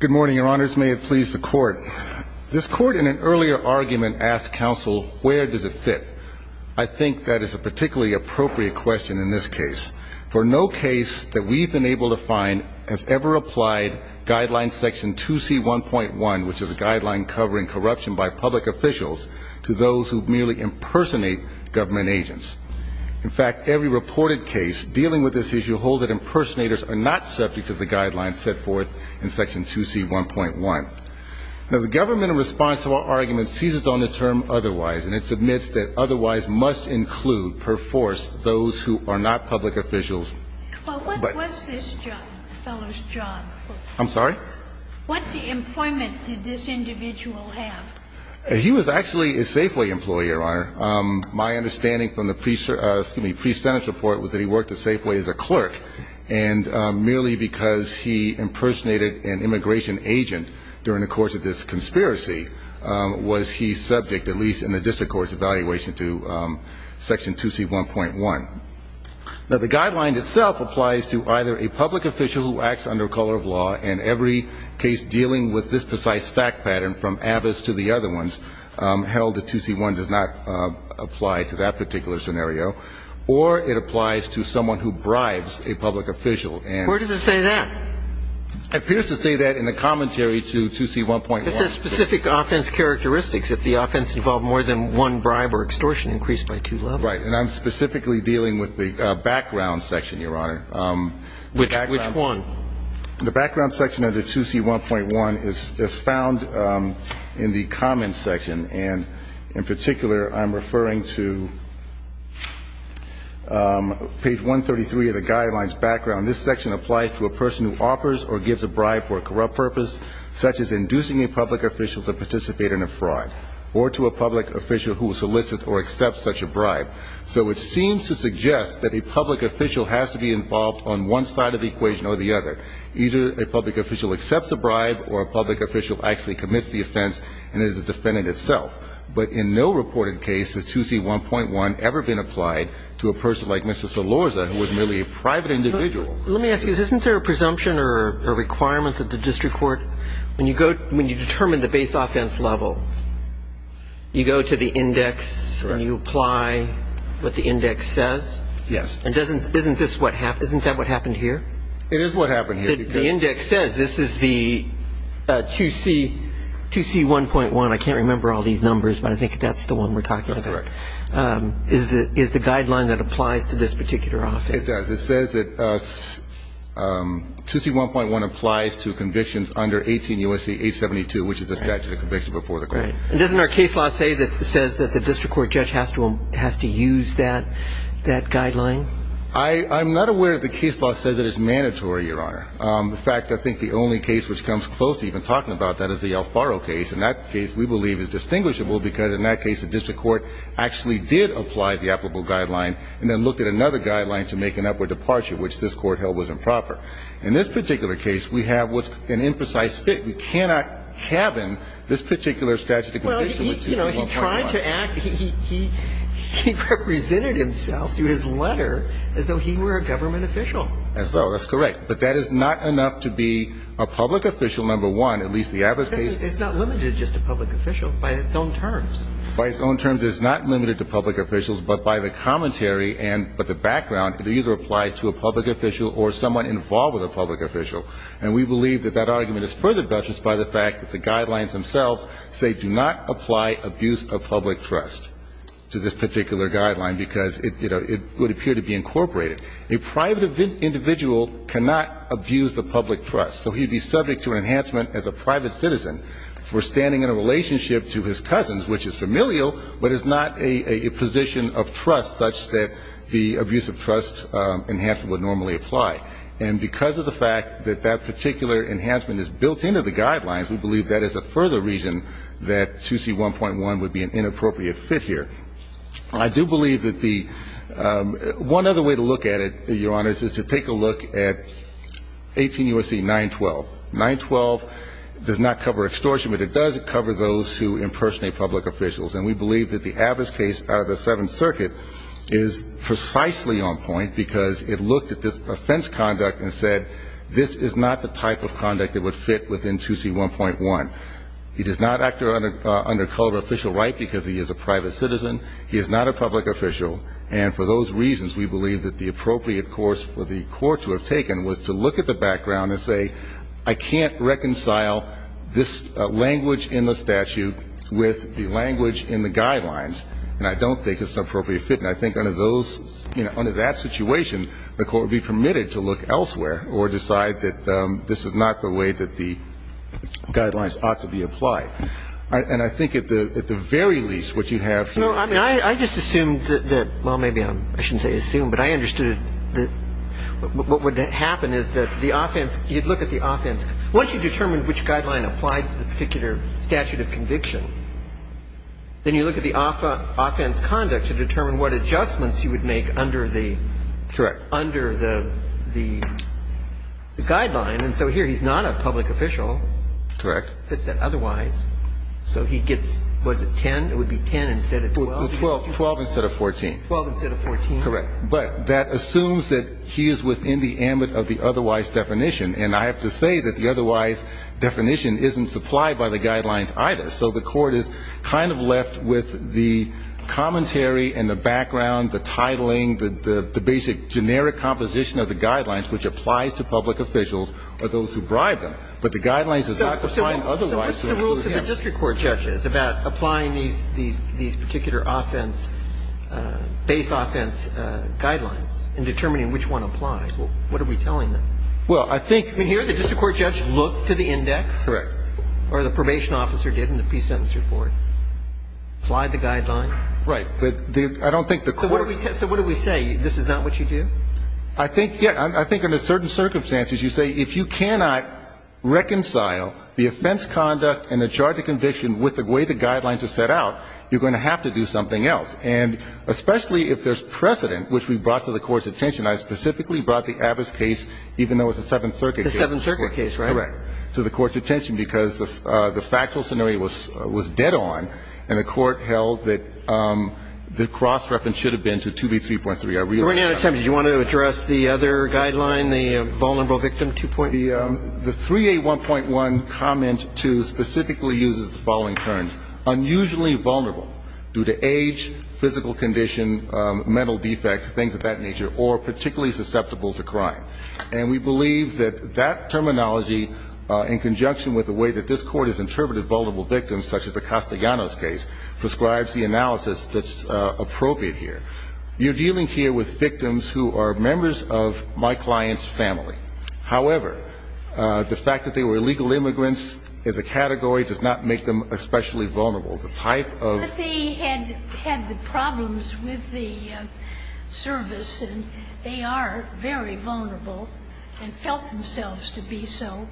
Good morning, your honors. May it please the court. This court in an earlier argument asked counsel, where does it fit? I think that is a particularly appropriate question in this case. For no case that we've been able to find has ever applied Guideline Section 2C1.1, which is a guideline covering corruption by public officials, to those who merely impersonate government agents. In fact, every reported case dealing with this issue hold that impersonators are not subject to the guidelines set forth in Section 2C1.1. Now, the government, in response to our argument, seizes on the term otherwise, and it submits that otherwise must include, per force, those who are not public officials. But what was this fellow's job? I'm sorry? What employment did this individual have? He was actually a Safeway employee, your honor. My understanding from the pre-Senate report was that he worked at Safeway as a clerk, and merely because he impersonated an immigration agent during the course of this conspiracy was he subject, at least in the district court's evaluation, to Section 2C1.1. Now, the guideline itself applies to either a public official who acts under color of law, and every case dealing with this precise fact pattern, from Avis to the other ones, held that 2C1 does not apply to that particular scenario, or it applies to someone who bribes a public official. Where does it say that? It appears to say that in the commentary to 2C1.1. It says specific offense characteristics. If the offense involved more than one bribe or extortion, increase by two levels. Right. And I'm specifically dealing with the background section, your honor. Which one? The background section under 2C1.1 is found in the comments section, and in particular, I'm referring to page 133 of the guidelines background. This section applies to a person who offers or gives a bribe for a corrupt purpose, such as inducing a public official to participate in a fraud, or to a public official who solicits or accepts such a bribe. So it seems to suggest that a public official has to be involved on one side of the equation or the other. Either a public official accepts a bribe or a public official actually commits the offense and is the defendant itself. But in no reported case has 2C1.1 ever been applied to a person like Mr. Salorza, who was merely a private individual. Let me ask you, isn't there a presumption or a requirement that the district court, when you determine the base offense level, you go to the index and you apply what the index says? Yes. And isn't this what happened? Isn't that what happened here? It is what happened here. The index says this is the 2C1.1. I can't remember all these numbers, but I think that's the one we're talking about. That's correct. Is the guideline that applies to this particular offense? It does. It says that 2C1.1 applies to convictions under 18 U.S.C. 872, which is the statute of conviction before the court. Right. And doesn't our case law say that it says that the district court judge has to use that guideline? I'm not aware that the case law says that it's mandatory, Your Honor. In fact, I think the only case which comes close to even talking about that is the Alfaro case, and that case we believe is distinguishable because in that case the district court actually did apply the applicable guideline and then looked at another guideline to make an upward departure, which this Court held was improper. In this particular case, we have what's an imprecise fit. But, you know, he tried to act, he represented himself through his letter as though he were a government official. As though. That's correct. But that is not enough to be a public official, number one, at least the Abbott case. It's not limited just to public officials by its own terms. By its own terms, it's not limited to public officials, but by the commentary and with the background, it either applies to a public official or someone involved with a public official. And we believe that that argument is furthered by the fact that the guidelines themselves say do not apply abuse of public trust to this particular guideline because, you know, it would appear to be incorporated. A private individual cannot abuse the public trust. So he would be subject to an enhancement as a private citizen for standing in a relationship to his cousins, which is familial but is not a position of trust such that the abuse of trust enhancement would normally apply. And because of the fact that that particular enhancement is built into the guidelines, we believe that is a further reason that 2C1.1 would be an inappropriate fit here. I do believe that the one other way to look at it, Your Honors, is to take a look at 18 U.S.C. 912. 912 does not cover extortion, but it does cover those who impersonate public officials. And we believe that the Abbott's case out of the Seventh Circuit is precisely on point because it looked at this offense conduct and said this is not the type of conduct that would fit within 2C1.1. He does not act under colored official right because he is a private citizen. He is not a public official. And for those reasons, we believe that the appropriate course for the court to have taken was to look at the background and say I can't reconcile this language in the statute with the language in the guidelines. And I don't think it's an appropriate fit. And I think under those, you know, under that situation, the court would be permitted to look elsewhere or decide that this is not the way that the guidelines ought to be applied. And I think at the very least what you have here. No, I mean, I just assumed that, well, maybe I shouldn't say assumed, but I understood what would happen is that the offense, you'd look at the offense. Once you determine which guideline applied to the particular statute of conviction, then you look at the offense conduct to determine what adjustments you would make under the. Correct. Under the guideline. And so here he's not a public official. Correct. If it said otherwise. So he gets, was it 10? It would be 10 instead of 12. 12 instead of 14. 12 instead of 14. Correct. But that assumes that he is within the ambit of the otherwise definition. And I have to say that the otherwise definition isn't supplied by the guidelines either. So the court is kind of left with the commentary and the background, the titling, the basic generic composition of the guidelines, which applies to public officials or those who bribe them. But the guidelines are not defined otherwise. So what's the rule to the district court judges about applying these particular offense, base offense guidelines and determining which one applies? What are we telling them? Well, I think. I mean, here the district court judge looked to the index. Correct. Or the probation officer did in the peace sentence report. Applied the guideline. Right. But I don't think the court. So what do we say? This is not what you do? I think, yeah, I think under certain circumstances you say if you cannot reconcile the offense conduct and the charge of conviction with the way the guidelines are set out, you're going to have to do something else. And especially if there's precedent, which we brought to the court's attention. I specifically brought the Abbas case, even though it's a Seventh Circuit case. The Seventh Circuit case, right? Correct. To the court's attention because the factual scenario was dead on and the court held that the cross reference should have been to 2B3.3. I realize that. Do you want to address the other guideline, the vulnerable victim 2.3? The 3A1.1 comment 2 specifically uses the following terms. Unusually vulnerable due to age, physical condition, mental defect, things of that nature, or particularly susceptible to crime. And we believe that that terminology in conjunction with the way that this court has interpreted vulnerable victims, such as the Castellanos case, prescribes the analysis that's appropriate here. You're dealing here with victims who are members of my client's family. However, the fact that they were illegal immigrants as a category does not make them especially vulnerable. The type of ---- But they had the problems with the service, and they are very vulnerable and felt themselves to be so.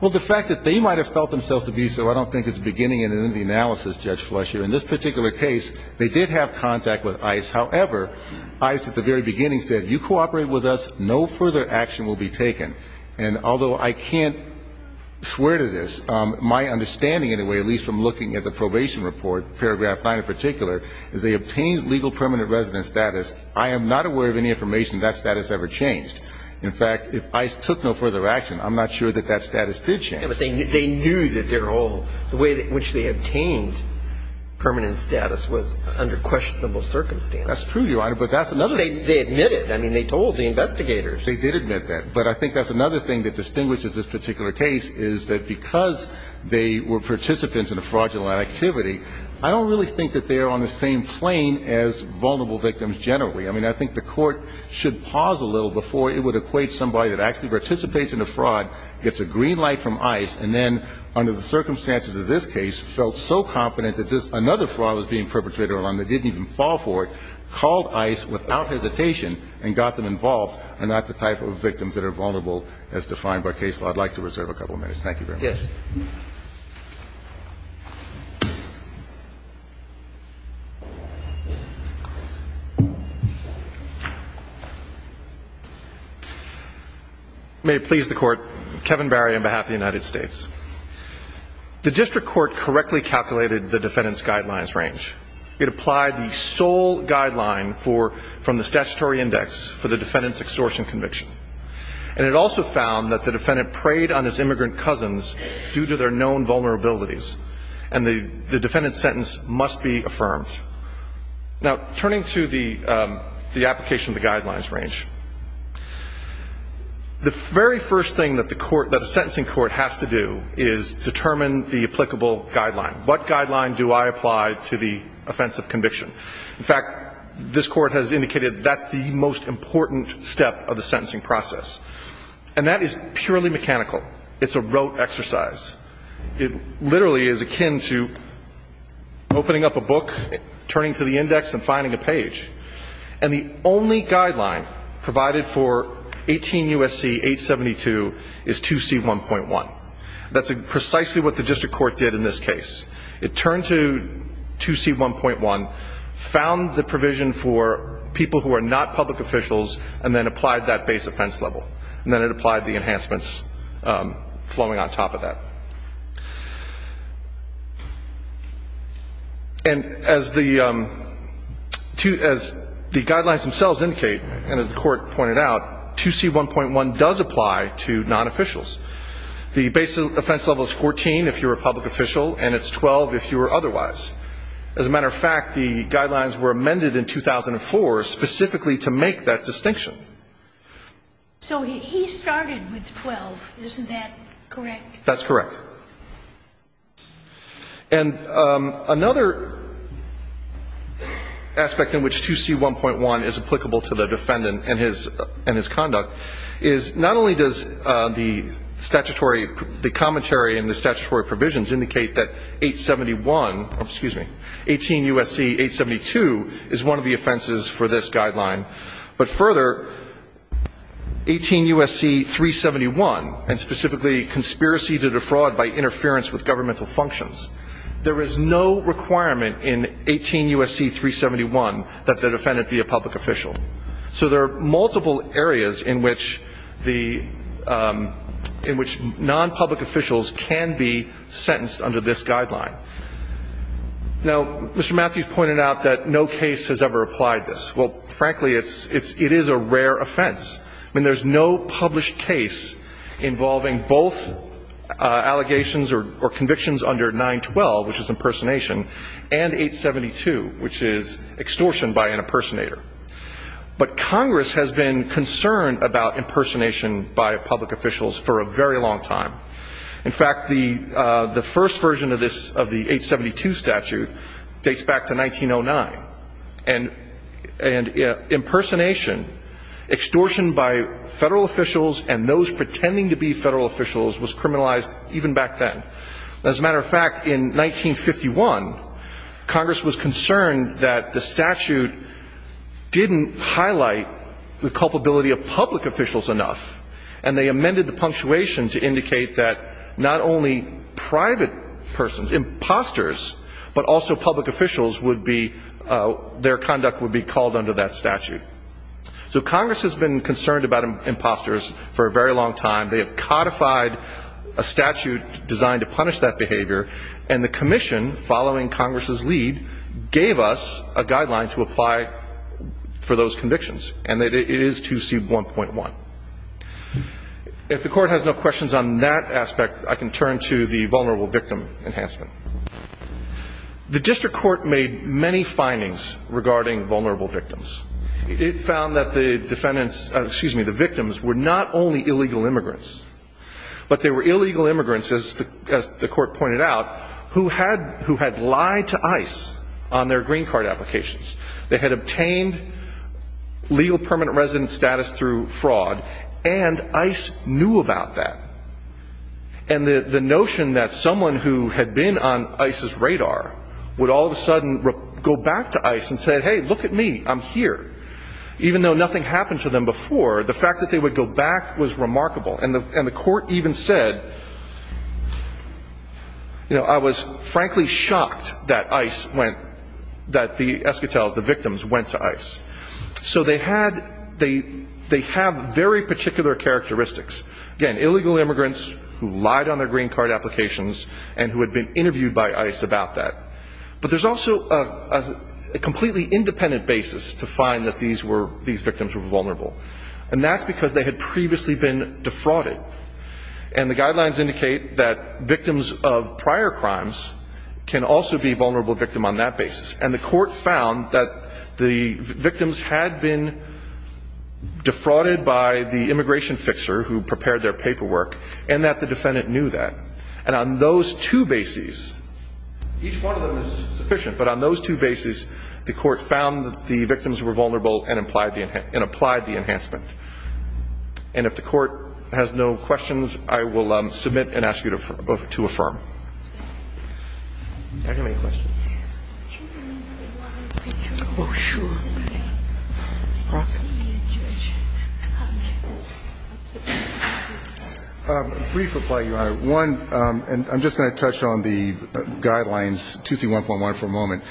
Well, the fact that they might have felt themselves to be so I don't think is beginning in the analysis, Judge Fletcher. In this particular case, they did have contact with ICE. However, ICE at the very beginning said, you cooperate with us, no further action will be taken. And although I can't swear to this, my understanding, in a way, at least from looking at the probation report, paragraph 9 in particular, is they obtained legal permanent resident status. I am not aware of any information that that status ever changed. In fact, if ICE took no further action, I'm not sure that that status did change. Yeah, but they knew that their whole ---- the way in which they obtained permanent status was under questionable circumstances. That's true, Your Honor, but that's another thing. They admitted. I mean, they told the investigators. They did admit that. But I think that's another thing that distinguishes this particular case is that because they were participants in a fraudulent activity, I don't really think that they are on the same plane as vulnerable victims generally. I mean, I think the Court should pause a little before it would equate somebody that actually participates in a fraud, gets a green light from ICE, and then under the circumstances of this case felt so confident that this ---- another fraud was being perpetrated on them, they didn't even fall for it, called ICE without hesitation and got them involved, are not the type of victims that are vulnerable as defined by case law. I'd like to reserve a couple of minutes. Thank you very much. Yes. May it please the Court. Kevin Barry on behalf of the United States. The district court correctly calculated the defendant's guidelines range. It applied the sole guideline for ---- from the statutory index for the defendant's extortion conviction. And it also found that the defendant preyed on his immigrant cousins due to their known vulnerabilities. And the defendant's sentence must be affirmed. Now, turning to the application of the guidelines range, the very first thing that the court ---- that a sentencing court has to do is determine the applicable guideline. What guideline do I apply to the offense of conviction? In fact, this court has indicated that's the most important step of the sentencing process. And that is purely mechanical. It's a rote exercise. It literally is akin to opening up a book, turning to the index, and finding a page. And the only guideline provided for 18 U.S.C. 872 is 2C1.1. That's precisely what the district court did in this case. It turned to 2C1.1, found the provision for people who are not public officials, and then applied that base offense level. And then it applied the enhancements flowing on top of that. And as the guidelines themselves indicate, and as the court pointed out, 2C1.1 does apply to non-officials. The base offense level is 14 if you're a public official, and it's 12 if you are otherwise. As a matter of fact, the guidelines were amended in 2004 specifically to make that distinction. So he started with 12. Isn't that correct? That's correct. And another aspect in which 2C1.1 is applicable to the defendant and his conduct is not only does the statutory commentary and the statutory provisions indicate that 871, excuse me, 18 U.S.C. 872 is one of the offenses for this guideline, but further, 18 U.S.C. 371, and specifically conspiracy to defraud by interference with governmental functions, there is no requirement in 18 U.S.C. 371 that the defendant be a public official. So there are multiple areas in which the non-public officials can be sentenced under this guideline. Now, Mr. Matthews pointed out that no case has ever applied this. Well, frankly, it is a rare offense. I mean, there's no published case involving both allegations or convictions under 912, which is impersonation, and 872, which is extortion by an impersonator. But Congress has been concerned about impersonation by public officials for a very long time. In fact, the first version of this, of the 872 statute, dates back to 1909. And impersonation, extortion by Federal officials and those pretending to be Federal officials was criminalized even back then. As a matter of fact, in 1951, Congress was concerned that the statute didn't highlight the culpability of public officials enough, and they amended the punctuation to indicate that not only private persons, imposters, but also public officials would be, their conduct would be called under that statute. So Congress has been concerned about imposters for a very long time. They have codified a statute designed to punish that behavior, and the commission, following Congress's lead, gave us a guideline to apply for those convictions, and it is 2C1.1. If the Court has no questions on that aspect, I can turn to the vulnerable victim enhancement. The district court made many findings regarding vulnerable victims. It found that the defendants, excuse me, the victims were not only illegal immigrants, but they were illegal immigrants, as the Court pointed out, who had lied to ICE on their green card applications. They had obtained legal permanent resident status through fraud, and ICE knew about that. And the notion that someone who had been on ICE's radar would all of a sudden go back to ICE and say, hey, look at me, I'm here, even though nothing happened to them before, the fact that they would go back was remarkable. And the Court even said, you know, I was frankly shocked that ICE went, that the eschatels, the victims, went to ICE. So they had, they have very particular characteristics. Again, illegal immigrants who lied on their green card applications and who had been interviewed by ICE about that. But there's also a completely independent basis to find that these were, these victims were vulnerable. And that's because they had previously been defrauded. And the guidelines indicate that victims of prior crimes can also be a vulnerable victim on that basis. And the Court found that the victims had been defrauded by the immigration fixer who prepared their paperwork, and that the defendant knew that. And on those two bases, each one of them is sufficient, but on those two bases, the Court found that the victims were vulnerable and applied the enhancement. And if the Court has no questions, I will submit and ask you to affirm. Do I have any questions? Oh, sure. Brief reply, Your Honor. One, and I'm just going to touch on the guidelines, 2C1.1, for a moment.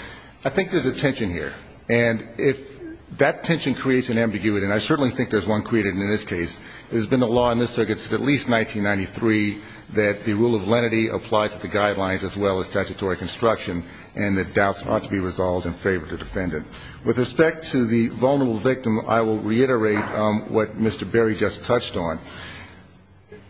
I think there's a tension here. And if that tension creates an ambiguity, and I certainly think there's one created in this case, there's been a law in this circuit since at least 1993 that the rule of lenity applies to the guidelines as well as statutory construction and that doubts ought to be resolved in favor of the defendant. With respect to the vulnerable victim, I will reiterate what Mr. Berry just touched on.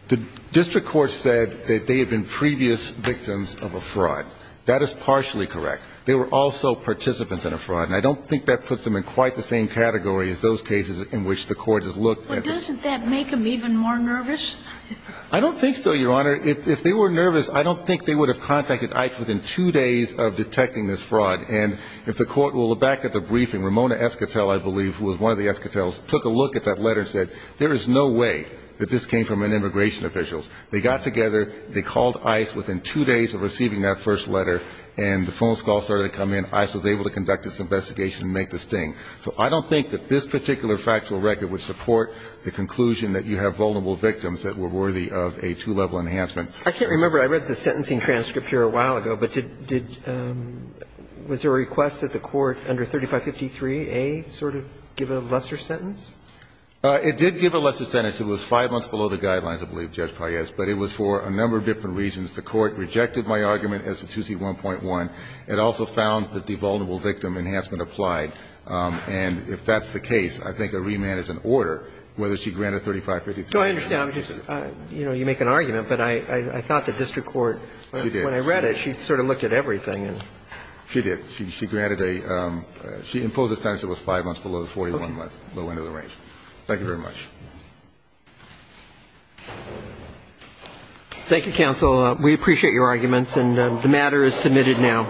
The district court said that they had been previous victims of a fraud. That is partially correct. They were also participants in a fraud. And I don't think that puts them in quite the same category as those cases in which the Court has looked at this. Well, doesn't that make them even more nervous? I don't think so, Your Honor. If they were nervous, I don't think they would have contacted ICE within two days of detecting this fraud. And if the Court will look back at the briefing, Ramona Esquitale, I believe, who was one of the Esquitales, took a look at that letter and said, there is no way that this came from an immigration official. They got together. They called ICE within two days of receiving that first letter. And the phone calls started to come in. ICE was able to conduct this investigation and make the sting. So I don't think that this particular factual record would support the conclusion that you have vulnerable victims that were worthy of a two-level enhancement. I can't remember. I read the sentencing transcript here a while ago. But did – was there a request that the Court under 3553A sort of give a lesser sentence? It did give a lesser sentence. It was five months below the guidelines, I believe, Judge Paez. But it was for a number of different reasons. The Court rejected my argument as a 2C1.1. It also found that the vulnerable victim enhancement applied. And if that's the case, I think a remand is an order, whether she granted 3553A. So I understand. You know, you make an argument. But I thought the district court, when I read it, she sort of looked at everything and – She did. She granted a – she imposed a sentence that was five months below the 41 month low end of the range. Thank you very much. Thank you, counsel. We appreciate your arguments. And the matter is submitted now.